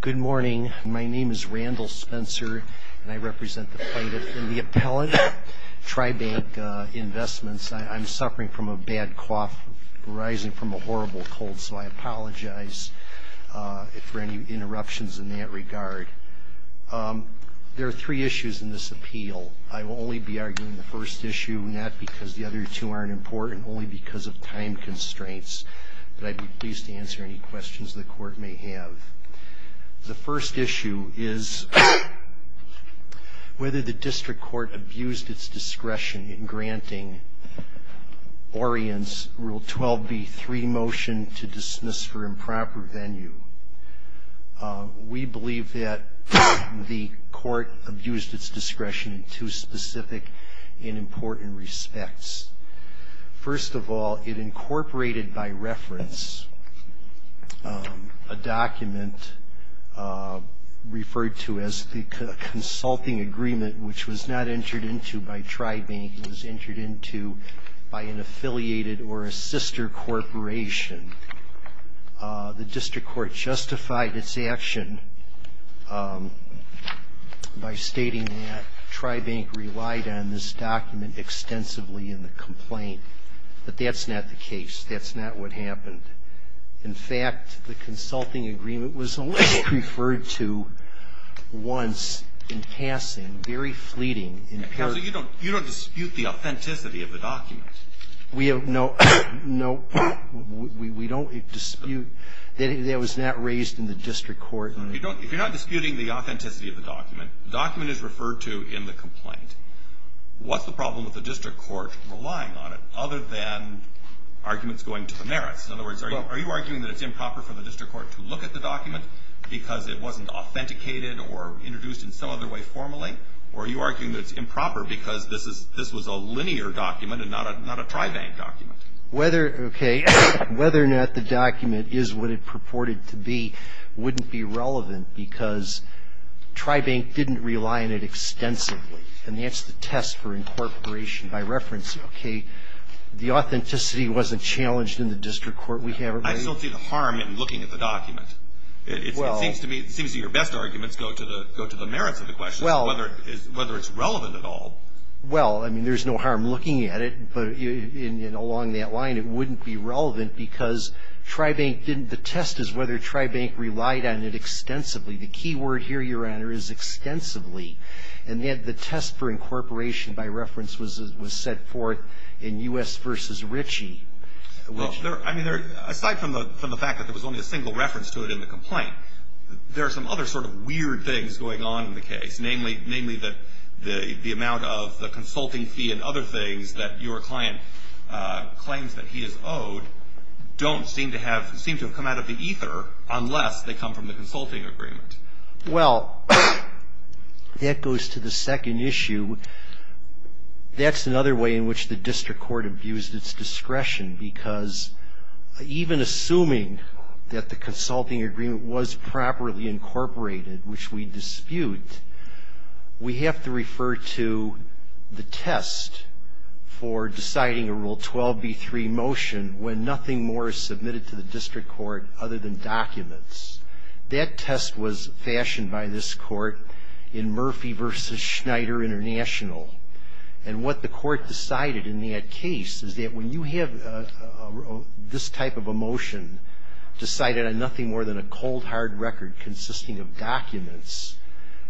Good morning. My name is Randall Spencer, and I represent the plaintiff and the appellant, Tribank Investments. I'm suffering from a bad cough arising from a horrible cold, so I apologize for any interruptions in that regard. There are three issues in this appeal. I will only be arguing the first issue, not because the other two aren't important, only because of time constraints, but I'd be pleased to answer any questions the court may have. The first issue is whether the district court abused its discretion in granting Orient's Rule 12b3 motion to dismiss for improper venue. We believe that the court abused its discretion in two specific and important respects. First of all, it incorporated by reference a document referred to as the consulting agreement, which was not entered into by Tribank. It was entered into by an affiliated or a sister corporation. The district court justified its action by stating that Tribank relied on this document extensively in the complaint, but that's not the case. That's not what happened. In fact, the consulting agreement was only referred to once in passing, very fleeting. Counsel, you don't dispute the authenticity of the document. No, we don't dispute that it was not raised in the district court. If you're not disputing the authenticity of the document, the document is referred to in the complaint. What's the problem with the district court relying on it other than arguments going to the merits? In other words, are you arguing that it's improper for the district court to look at the document because it wasn't authenticated or introduced in some other way formally, or are you arguing that it's improper because this was a linear document and not a Tribank document? Whether or not the document is what it purported to be wouldn't be relevant because Tribank didn't rely on it extensively, and that's the test for incorporation by reference. The authenticity wasn't challenged in the district court. I still see the harm in looking at the document. It seems to me your best arguments go to the merits of the question, whether it's relevant at all. Well, I mean, there's no harm looking at it, but along that line, it wouldn't be relevant because the test is whether Tribank relied on it extensively. The key word here, Your Honor, is extensively, and yet the test for incorporation by reference was set forth in U.S. v. Ritchie. Well, I mean, aside from the fact that there was only a single reference to it in the complaint, there are some other sort of weird things going on in the case, namely that the amount of the consulting fee and other things that your client claims that he is owed don't seem to have come out of the ether unless they come from the consulting agreement. Well, that goes to the second issue. That's another way in which the district court abused its discretion, because even assuming that the consulting agreement was properly incorporated, which we dispute, we have to refer to the test for deciding a Rule 12b3 motion when nothing more is submitted to the district court other than documents. That test was fashioned by this Court in Murphy v. Schneider International, and what the Court decided in that case is that when you have this type of a motion decided on nothing more than a cold, hard record consisting of documents,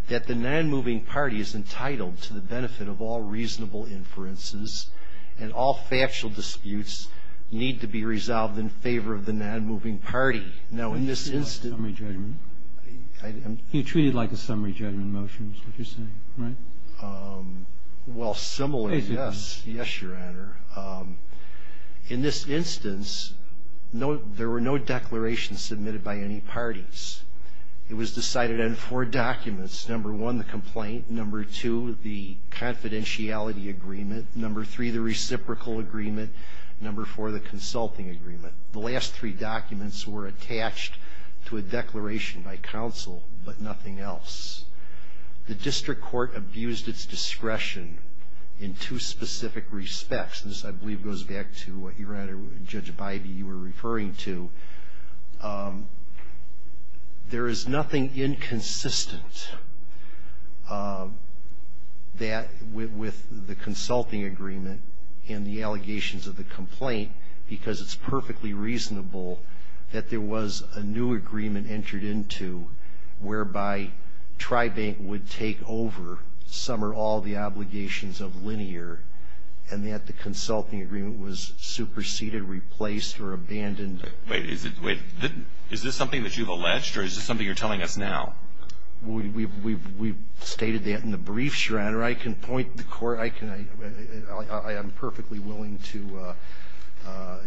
that the nonmoving party is entitled to the benefit of all reasonable inferences and all factual disputes need to be resolved in favor of the nonmoving party. Now, in this instance... Do you treat it like a summary judgment? You treat it like a summary judgment motion is what you're saying, right? Well, similarly, yes. Yes, Your Honor. In this instance, there were no declarations submitted by any parties. It was decided on four documents. Number one, the complaint. Number two, the confidentiality agreement. Number three, the reciprocal agreement. Number four, the consulting agreement. The last three documents were attached to a declaration by counsel, but nothing else. The district court abused its discretion in two specific respects. This, I believe, goes back to what, Your Honor, Judge Bybee, you were referring to. There is nothing inconsistent with the consulting agreement and the allegations of the complaint because it's perfectly reasonable that there was a new agreement entered into whereby Tribank would take over some or all the obligations of Linear and that the consulting agreement was superseded, replaced, or abandoned. Wait. Is this something that you've alleged, or is this something you're telling us now? We've stated that in the brief, Your Honor. Your Honor, I can point the court. I am perfectly willing to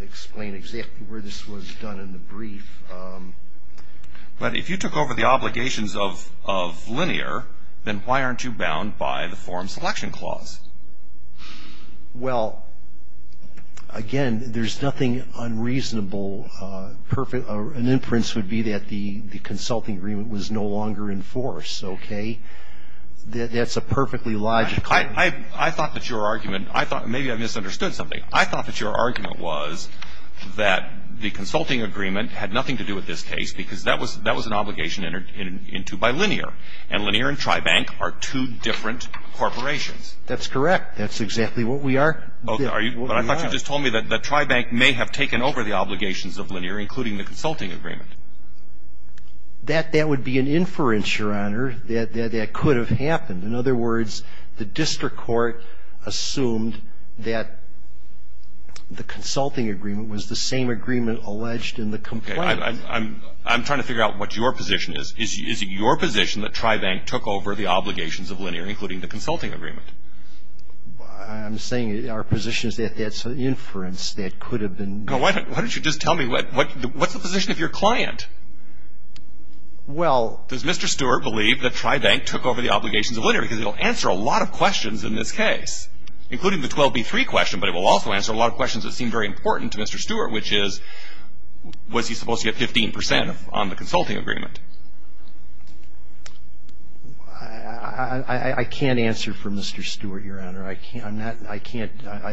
explain exactly where this was done in the brief. But if you took over the obligations of Linear, then why aren't you bound by the form selection clause? Well, again, there's nothing unreasonable. An inference would be that the consulting agreement was no longer in force. Okay? That's a perfectly logical argument. I thought that your argument, I thought, maybe I misunderstood something. I thought that your argument was that the consulting agreement had nothing to do with this case because that was an obligation entered into by Linear, and Linear and Tribank are two different corporations. That's correct. That's exactly what we are. But I thought you just told me that Tribank may have taken over the obligations of Linear, including the consulting agreement. That would be an inference, Your Honor, that that could have happened. In other words, the district court assumed that the consulting agreement was the same agreement alleged in the complaint. Okay. I'm trying to figure out what your position is. Is it your position that Tribank took over the obligations of Linear, including the consulting agreement? I'm saying our position is that that's an inference that could have been made. Why don't you just tell me, what's the position of your client? Well. Does Mr. Stewart believe that Tribank took over the obligations of Linear because it will answer a lot of questions in this case, including the 12B3 question, but it will also answer a lot of questions that seem very important to Mr. Stewart, which is was he supposed to get 15% on the consulting agreement? I can't answer for Mr. Stewart, Your Honor. I can't. I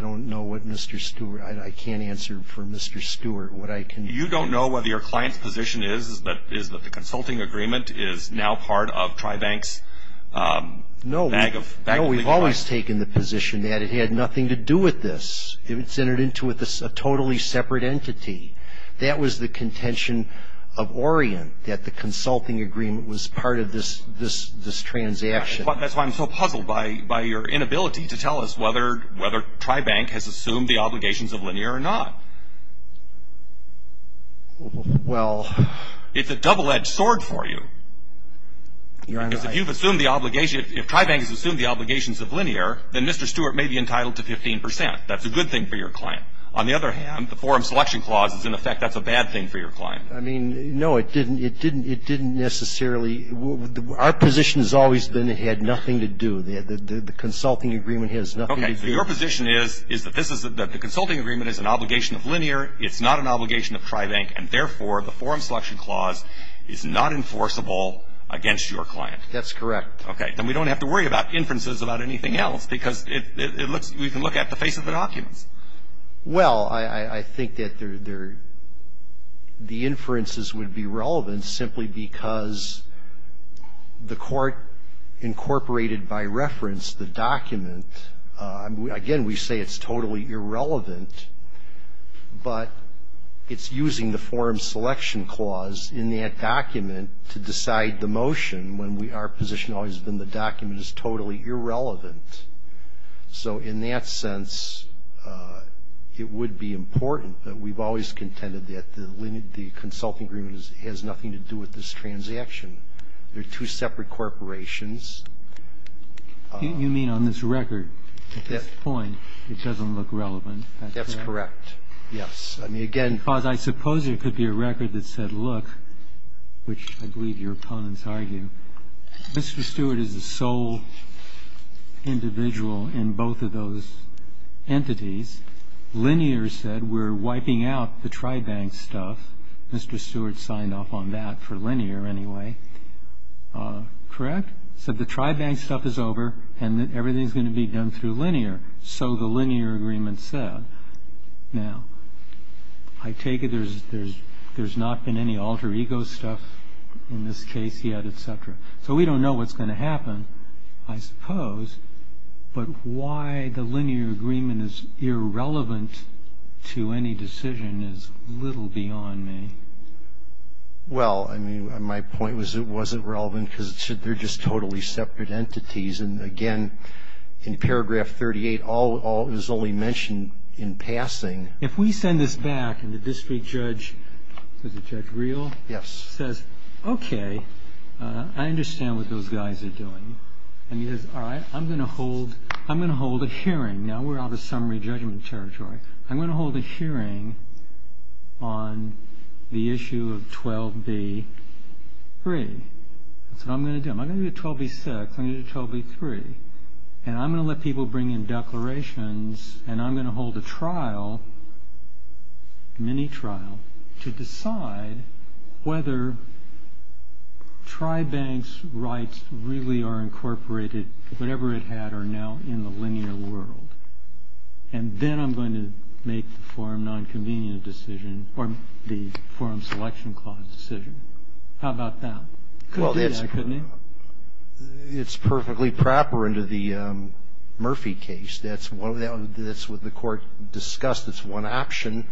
don't know what Mr. Stewart. I can't answer for Mr. Stewart. You don't know whether your client's position is that the consulting agreement is now part of Tribank's? No. No, we've always taken the position that it had nothing to do with this. It was entered into with a totally separate entity. That was the contention of Orient, that the consulting agreement was part of this transaction. That's why I'm so puzzled by your inability to tell us whether Tribank has assumed the obligations of Linear or not. Well. It's a double-edged sword for you. Your Honor, I. Because if you've assumed the obligation, if Tribank has assumed the obligations of Linear, then Mr. Stewart may be entitled to 15%. That's a good thing for your client. On the other hand, the forum selection clause is, in effect, that's a bad thing for your client. I mean, no, it didn't necessarily. Our position has always been it had nothing to do. The consulting agreement has nothing to do. Okay. So your position is that the consulting agreement is an obligation of Linear. It's not an obligation of Tribank. And, therefore, the forum selection clause is not enforceable against your client. That's correct. Okay. Then we don't have to worry about inferences about anything else because we can look at the face of the documents. Well, I think that they're the inferences would be relevant simply because the court incorporated by reference the document. Again, we say it's totally irrelevant, but it's using the forum selection clause in that document to decide the motion when our position has always been the document is totally irrelevant. So in that sense, it would be important that we've always contended that the consulting agreement has nothing to do with this transaction. They're two separate corporations. You mean on this record? At this point, it doesn't look relevant. That's correct. Yes. I mean, again, because I suppose there could be a record that said, look, which I believe your opponents argue, Mr. Stewart is the sole individual in both of those entities. Linear said we're wiping out the Tribank stuff. Mr. Stewart signed off on that for linear anyway. Correct? Said the Tribank stuff is over and that everything's going to be done through linear. So the linear agreement said. Now, I take it there's not been any alter ego stuff in this case yet, et cetera. So we don't know what's going to happen, I suppose, but why the linear agreement is irrelevant to any decision is little beyond me. Well, I mean, my point was it wasn't relevant because they're just totally separate entities. And, again, in paragraph 38, all is only mentioned in passing. If we send this back and the district judge, is the judge real? Yes. Says, okay, I understand what those guys are doing. And he says, all right, I'm going to hold a hearing. Now we're out of summary judgment territory. I'm going to hold a hearing on the issue of 12B3. That's what I'm going to do. I'm going to do 12B6. I'm going to do 12B3. And I'm going to let people bring in declarations. And I'm going to hold a trial, mini trial, to decide whether Tribank's rights really are incorporated. Whatever it had are now in the linear world. And then I'm going to make the forum non-convenient decision or the forum selection clause decision. How about that? Well, it's perfectly proper into the Murphy case. That's what the court discussed as one option.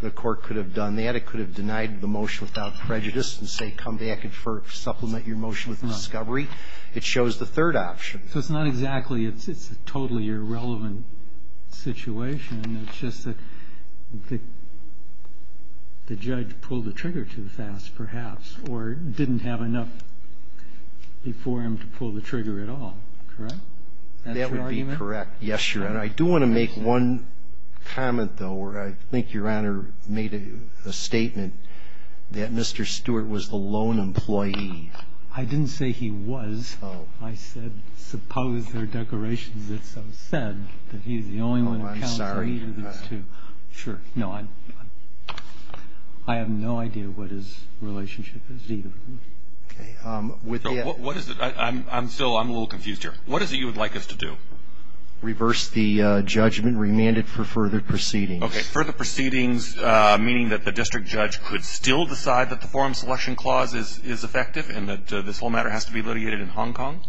The court could have done that. It could have denied the motion without prejudice and say, come back and supplement your motion with discovery. It shows the third option. So it's not exactly ‑‑ it's a totally irrelevant situation. It's just that the judge pulled the trigger too fast, perhaps, or didn't have enough before him to pull the trigger at all. Correct? That's your argument? That would be correct. Yes, Your Honor. I do want to make one comment, though, where I think Your Honor made a statement that Mr. Stewart was the lone employee. I didn't say he was. Oh. I said, suppose there are declarations that so said that he's the only one to count three of these two. Oh, I'm sorry. Sure. No, I have no idea what his relationship is to either of them. Okay. What is it? I'm still ‑‑ I'm a little confused here. What is it you would like us to do? Reverse the judgment, remand it for further proceedings. Okay. Further proceedings, meaning that the district judge could still decide that the forum selection clause is effective and that this whole matter has to be litigated in Hong Kong?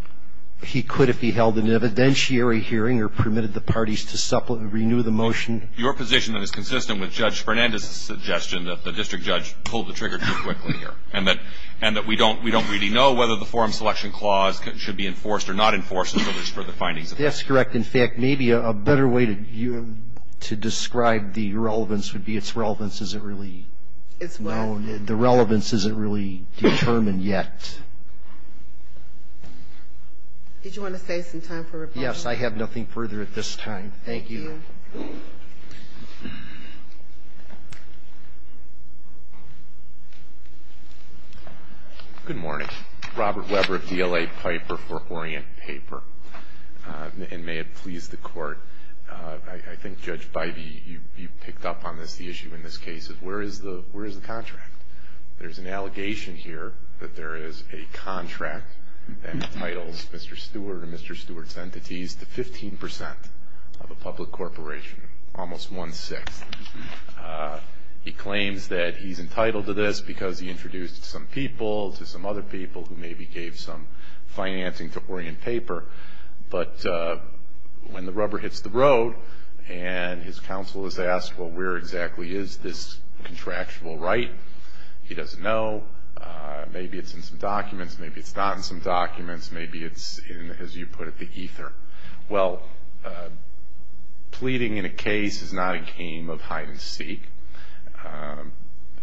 He could if he held an evidentiary hearing or permitted the parties to renew the motion. Your position is consistent with Judge Fernandez's suggestion that the district judge pulled the trigger too quickly here and that we don't really know whether the forum selection clause should be enforced or not enforced until there's further findings. That's correct. In fact, maybe a better way to describe the relevance would be its relevance isn't really known. The relevance isn't really determined yet. Did you want to save some time for rebuttal? Yes. I have nothing further at this time. Thank you. Thank you. Good morning. Robert Weber of DLA Piper for Orient Paper. And may it please the Court, I think, Judge Bidey, you picked up on this, the issue in this case is where is the contract? There's an allegation here that there is a contract that entitles Mr. Stewart and Mr. Stewart's entities to 15% of a public corporation, almost one-sixth. He claims that he's entitled to this because he introduced it to some people, to some other people who maybe gave some financing to Orient Paper. But when the rubber hits the road and his counsel is asked, well, where exactly is this contractual right? He doesn't know. Maybe it's in some documents. Maybe it's not in some documents. Maybe it's in, as you put it, the ether. Well, pleading in a case is not a game of hide and seek.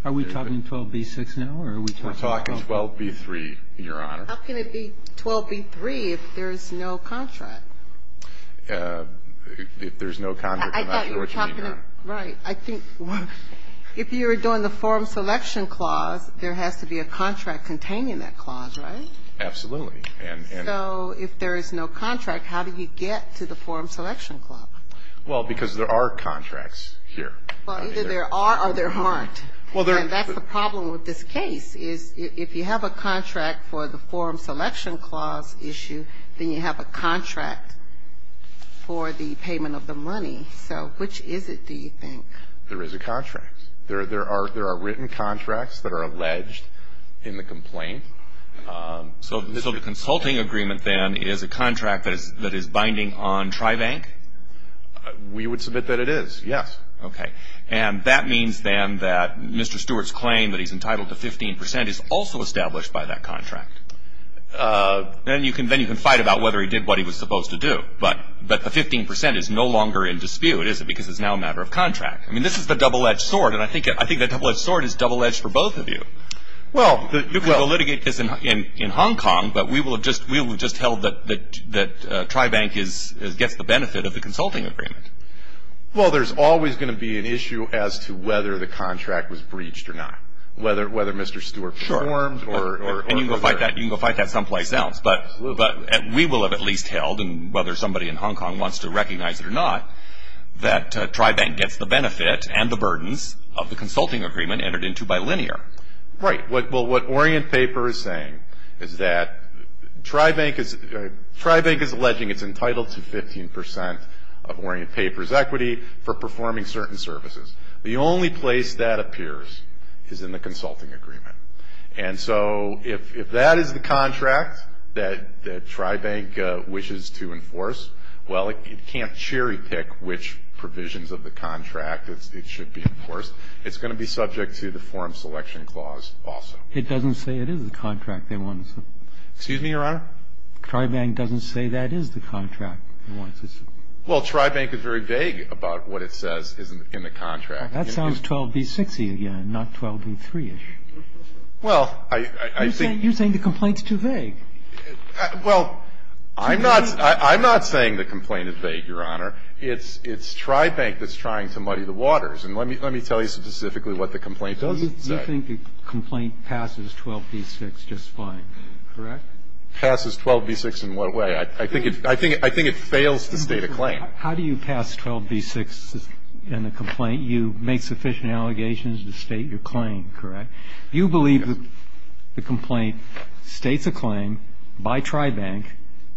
Are we talking 12b-6 now or are we talking 12b-3? We're talking 12b-3, Your Honor. How can it be 12b-3 if there's no contract? If there's no contract, I'm not sure what you mean, Your Honor. Right. I think if you were doing the forum selection clause, there has to be a contract containing that clause, right? Absolutely. So if there is no contract, how do you get to the forum selection clause? Well, because there are contracts here. Well, either there are or there aren't. And that's the problem with this case is if you have a contract for the forum selection clause issue, then you have a contract for the payment of the money. So which is it, do you think? There is a contract. There are written contracts that are alleged in the complaint. So the consulting agreement, then, is a contract that is binding on TriBank? We would submit that it is, yes. Okay. And that means, then, that Mr. Stewart's claim that he's entitled to 15% is also established by that contract. Then you can fight about whether he did what he was supposed to do. But the 15% is no longer in dispute, is it? Because it's now a matter of contract. I mean, this is the double-edged sword. And I think that double-edged sword is double-edged for both of you. Well, the litigate is in Hong Kong, but we will have just held that TriBank gets the benefit of the consulting agreement. Well, there's always going to be an issue as to whether the contract was breached or not, whether Mr. Stewart performed. Sure. And you can go fight that someplace else. Absolutely. But we will have at least held, and whether somebody in Hong Kong wants to recognize it or not, that TriBank gets the benefit and the burdens of the consulting agreement entered into by Linear. Right. Well, what Orient Paper is saying is that TriBank is alleging it's entitled to 15% of Orient Paper's equity for performing certain services. The only place that appears is in the consulting agreement. And so if that is the contract that TriBank wishes to enforce, well, it can't cherry-pick which provisions of the contract it should be enforced. It's going to be subject to the Forum Selection Clause also. It doesn't say it is the contract they want to support. Excuse me, Your Honor? TriBank doesn't say that is the contract it wants to support. Well, TriBank is very vague about what it says is in the contract. That sounds 12b-6-y again, not 12b-3-ish. Well, I think you're saying the complaint is too vague. Well, I'm not saying the complaint is vague, Your Honor. It's TriBank that's trying to muddy the waters. And let me tell you specifically what the complaint doesn't say. You think the complaint passes 12b-6 just fine, correct? It passes 12b-6 in what way? I think it fails to state a claim. How do you pass 12b-6 in a complaint? You make sufficient allegations to state your claim, correct? You believe the complaint states a claim by TriBank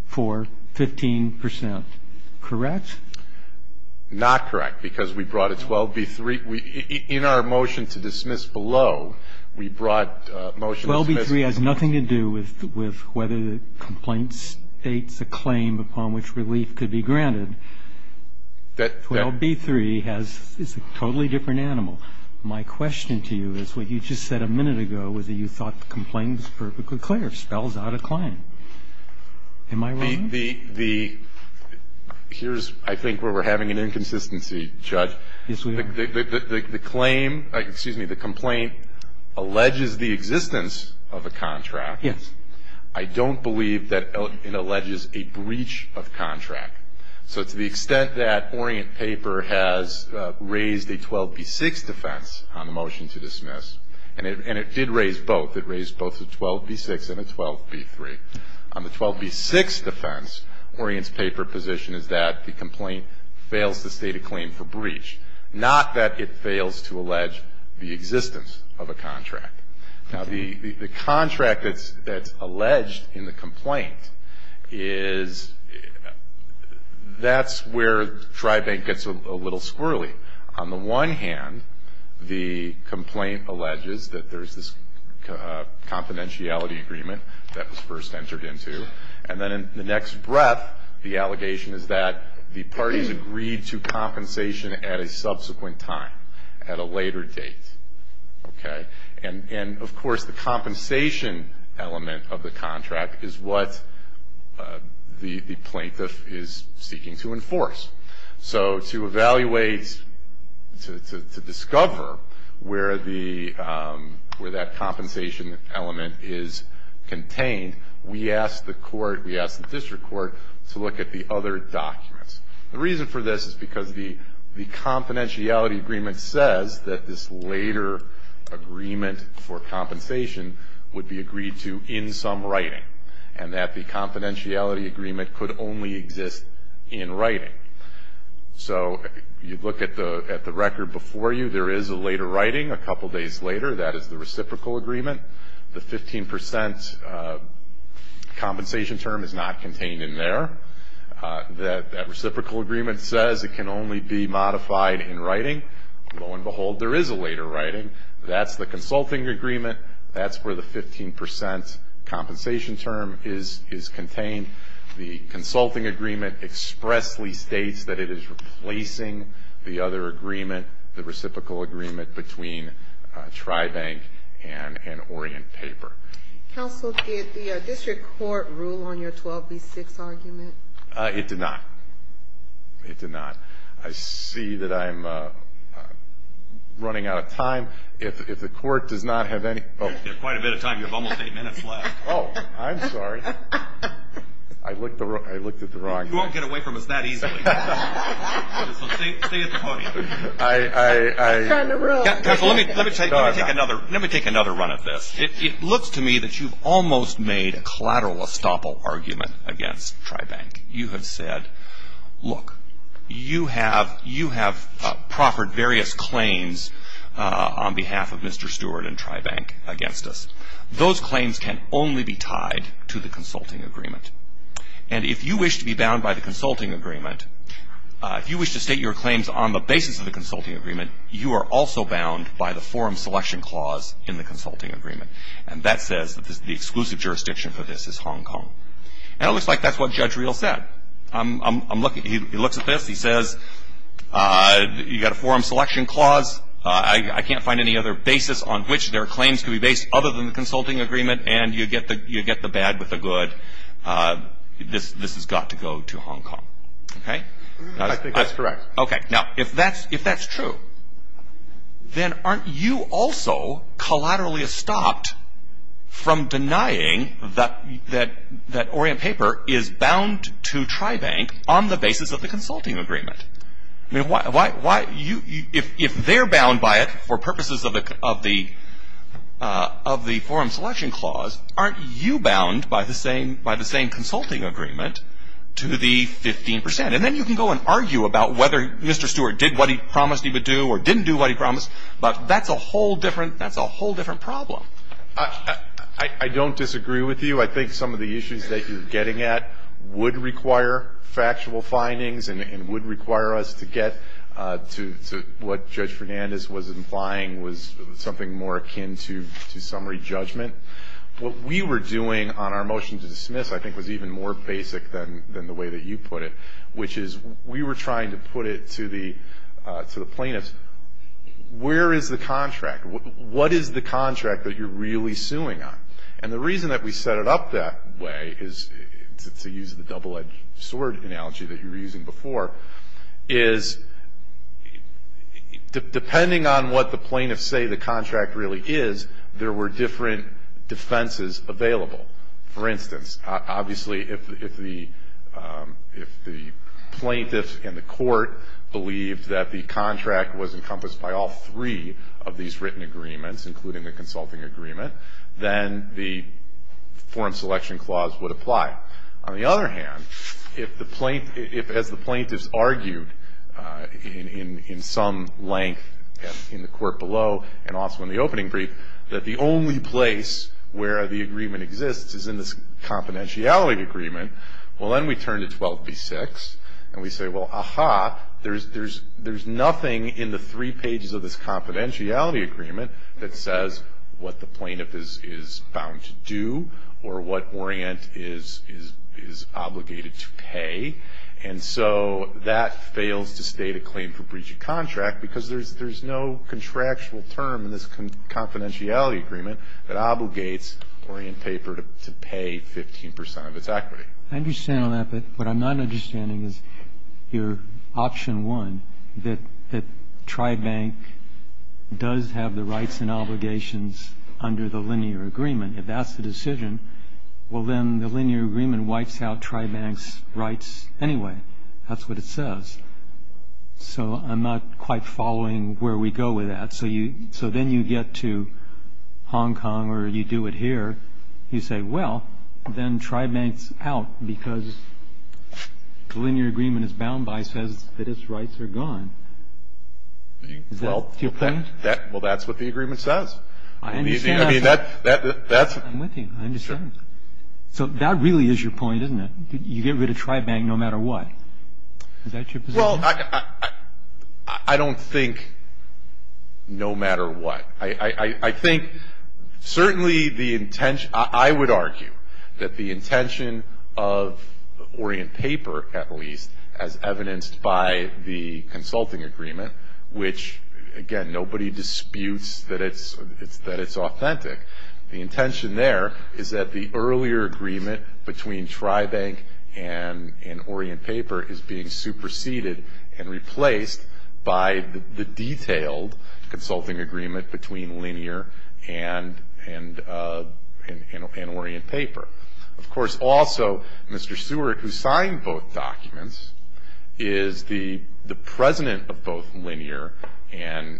for 15 percent, correct? Not correct, because we brought a 12b-3. 12b-3 has nothing to do with whether the complaint states a claim upon which relief could be granted. 12b-3 is a totally different animal. My question to you is what you just said a minute ago, whether you thought the complaint was perfectly clear. It spells out a claim. Am I wrong? Here's, I think, where we're having an inconsistency, Judge. Yes, we are. The claim, excuse me, the complaint alleges the existence of a contract. Yes. I don't believe that it alleges a breach of contract. So to the extent that Orient Paper has raised a 12b-6 defense on the motion to dismiss, and it did raise both, it raised both a 12b-6 and a 12b-3, on the 12b-6 defense, Orient's paper position is that the complaint fails to state a claim for breach, not that it fails to allege the existence of a contract. Now, the contract that's alleged in the complaint is that's where TriBank gets a little squirrely. On the one hand, the complaint alleges that there's this confidentiality agreement that was first entered into, and then in the next breath, the allegation is that the parties agreed to compensation at a subsequent time, at a later date. Okay? And, of course, the compensation element of the contract is what the plaintiff is seeking to enforce. So to evaluate, to discover where that compensation element is contained, we asked the court, we asked the district court, to look at the other documents. The reason for this is because the confidentiality agreement says that this later agreement for compensation would be agreed to in some writing, and that the confidentiality agreement could only exist in writing. So you look at the record before you. There is a later writing a couple days later. That is the reciprocal agreement. The 15% compensation term is not contained in there. That reciprocal agreement says it can only be modified in writing. Lo and behold, there is a later writing. That's the consulting agreement. That's where the 15% compensation term is contained. The consulting agreement expressly states that it is replacing the other agreement, the reciprocal agreement between Tribank and Orient Paper. Counsel, did the district court rule on your 12B6 argument? It did not. It did not. I see that I'm running out of time. If the court does not have any ---- You have quite a bit of time. You have almost eight minutes left. Oh, I'm sorry. I looked at the wrong thing. You won't get away from us that easily. So stay at the podium. I ---- Counsel, let me take another run at this. It looks to me that you've almost made a collateral estoppel argument against Tribank. You have said, look, you have proffered various claims on behalf of Mr. Stewart and Tribank against us. Those claims can only be tied to the consulting agreement. And if you wish to be bound by the consulting agreement, if you wish to state your claims on the basis of the consulting agreement, you are also bound by the forum selection clause in the consulting agreement. And that says that the exclusive jurisdiction for this is Hong Kong. And it looks like that's what Judge Riehl said. I'm looking. He looks at this. He says, you've got a forum selection clause. I can't find any other basis on which their claims can be based other than the consulting agreement. And you get the bad with the good. This has got to go to Hong Kong. Okay? I think that's correct. Okay. Now, if that's true, then aren't you also collaterally estopped from denying that Orient Paper is bound to Tribank on the basis of the consulting agreement? I mean, why you ‑‑ if they're bound by it for purposes of the forum selection clause, aren't you bound by the same consulting agreement to the 15 percent? And then you can go and argue about whether Mr. Stewart did what he promised he would do or didn't do what he promised. But that's a whole different ‑‑ that's a whole different problem. I don't disagree with you. I think some of the issues that you're getting at would require factual findings and would require us to get to what Judge Fernandez was implying was something more akin to summary judgment. What we were doing on our motion to dismiss, I think, was even more basic than the way that you put it, which is we were trying to put it to the plaintiffs, where is the contract? What is the contract that you're really suing on? And the reason that we set it up that way is, to use the double-edged sword analogy that you were using before, is depending on what the plaintiffs say the contract really is, there were different defenses available. For instance, obviously, if the plaintiffs in the court believed that the contract was encompassed by all three of these written agreements, including the consulting agreement, then the form selection clause would apply. On the other hand, if, as the plaintiffs argued in some length in the court below and also in the opening brief, that the only place where the agreement exists is in this confidentiality agreement, well, then we turn to 12b-6, and we say, well, aha, there's nothing in the three pages of this confidentiality agreement that says what the plaintiff is bound to do or what Orient is obligated to pay. And so that fails to state a claim for breach of contract, because there's no contractual term in this confidentiality agreement that obligates Orient Paper to pay 15 percent of its equity. I understand all that, but what I'm not understanding is your option one, that Tribank does have the rights and obligations under the linear agreement. If that's the decision, well, then the linear agreement wipes out Tribank's rights anyway. That's what it says. So I'm not quite following where we go with that. So then you get to Hong Kong or you do it here. You say, well, then Tribank's out because the linear agreement it's bound by says that its rights are gone. Do you agree? Well, that's what the agreement says. I understand that. I'm with you. I understand. So that really is your point, isn't it? You get rid of Tribank no matter what. Is that your position? Well, I don't think no matter what. I think certainly the intention – I would argue that the intention of Orient Paper, at least, as evidenced by the consulting agreement, which, again, nobody disputes that it's authentic. The intention there is that the earlier agreement between Tribank and Orient Paper is being superseded and replaced by the detailed consulting agreement between linear and Orient Paper. Of course, also, Mr. Stewart, who signed both documents, is the president of both linear and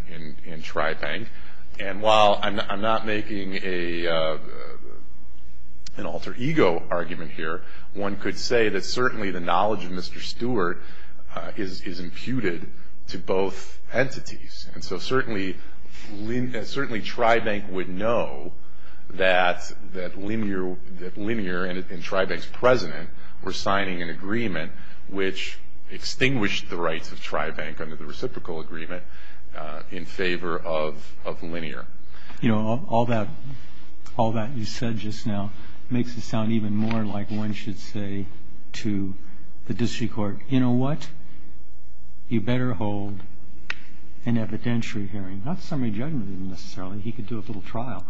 Tribank. And while I'm not making an alter ego argument here, one could say that certainly the knowledge of Mr. Stewart is imputed to both entities. And so certainly Tribank would know that linear and Tribank's president were signing an agreement which extinguished the rights of Tribank under the reciprocal agreement in favor of linear. You know, all that you said just now makes it sound even more like one should say to the district court, you know what, you better hold an evidentiary hearing. Not summary judgment necessarily. He could do a little trial.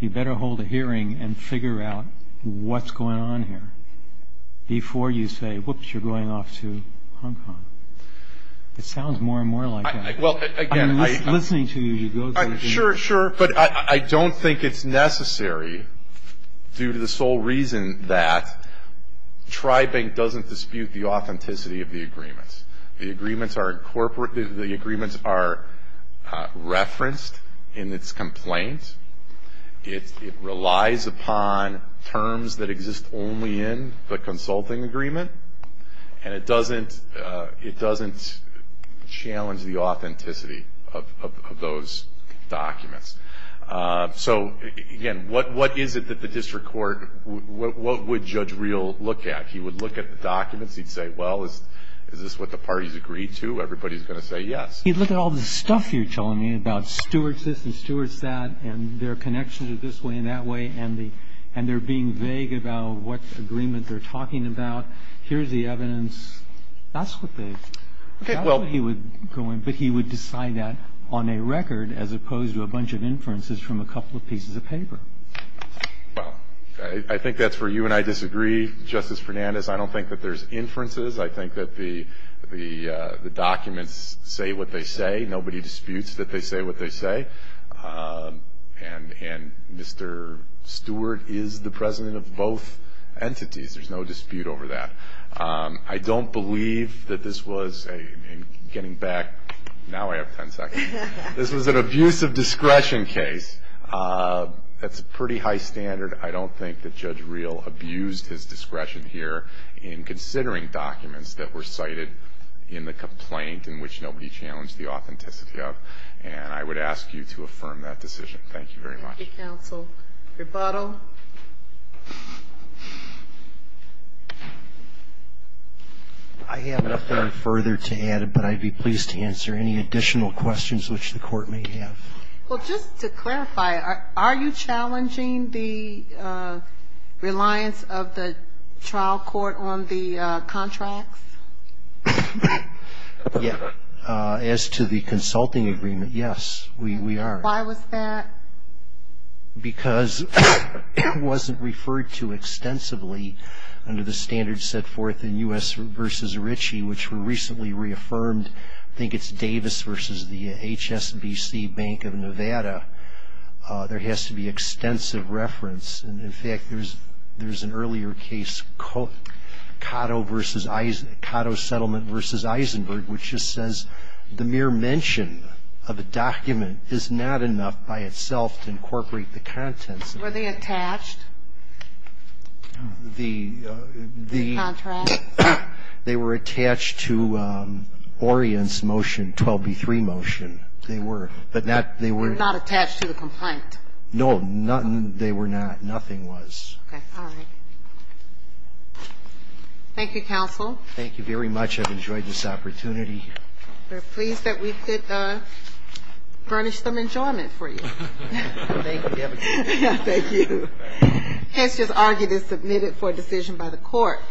You better hold a hearing and figure out what's going on here before you say, whoops, you're going off to Hong Kong. It sounds more and more like that. I'm listening to you. Sure, sure. But I don't think it's necessary due to the sole reason that Tribank doesn't dispute the authenticity of the agreements. The agreements are referenced in its complaint. It relies upon terms that exist only in the consulting agreement. And it doesn't challenge the authenticity of those documents. So, again, what is it that the district court, what would Judge Reel look at? He would look at the documents. He'd say, well, is this what the parties agreed to? Everybody's going to say yes. He'd look at all the stuff you're telling me about Stewart this and Stewart that and their connection to this way and that way and they're being vague about what agreement they're talking about. Here's the evidence. That's what they would go in. But he would decide that on a record as opposed to a bunch of inferences from a couple of pieces of paper. Well, I think that's where you and I disagree, Justice Fernandez. I don't think that there's inferences. I think that the documents say what they say. Nobody disputes that they say what they say. And Mr. Stewart is the president of both entities. There's no dispute over that. I don't believe that this was a getting back. Now I have 10 seconds. This was an abuse of discretion case. That's a pretty high standard. I don't think that Judge Reel abused his discretion here in considering documents that were cited in the complaint in which nobody challenged the authenticity of. And I would ask you to affirm that decision. Thank you very much. Thank you, counsel. Rebuttal. I have nothing further to add, but I'd be pleased to answer any additional questions which the court may have. Well, just to clarify, are you challenging the reliance of the trial court on the contracts? Yes. As to the consulting agreement, yes, we are. Why was that? Because it wasn't referred to extensively under the standards set forth in U.S. v. Ritchie, which were recently reaffirmed. I think it's Davis v. the HSBC Bank of Nevada. There has to be extensive reference. And, in fact, there's an earlier case, Cotto v. Eisenberg, which just says the mere mention of a document is not enough by itself to incorporate the contents of the document. Were they attached? The contract? They were attached to Orient's motion, 12b3 motion. They were. But not they were not attached to the complaint. No, nothing they were not. Nothing was. Okay. All right. Thank you, counsel. Thank you very much. I've enjoyed this opportunity. We're pleased that we could furnish some enjoyment for you. Thank you. Thank you. The case is argued and submitted for decision by the court.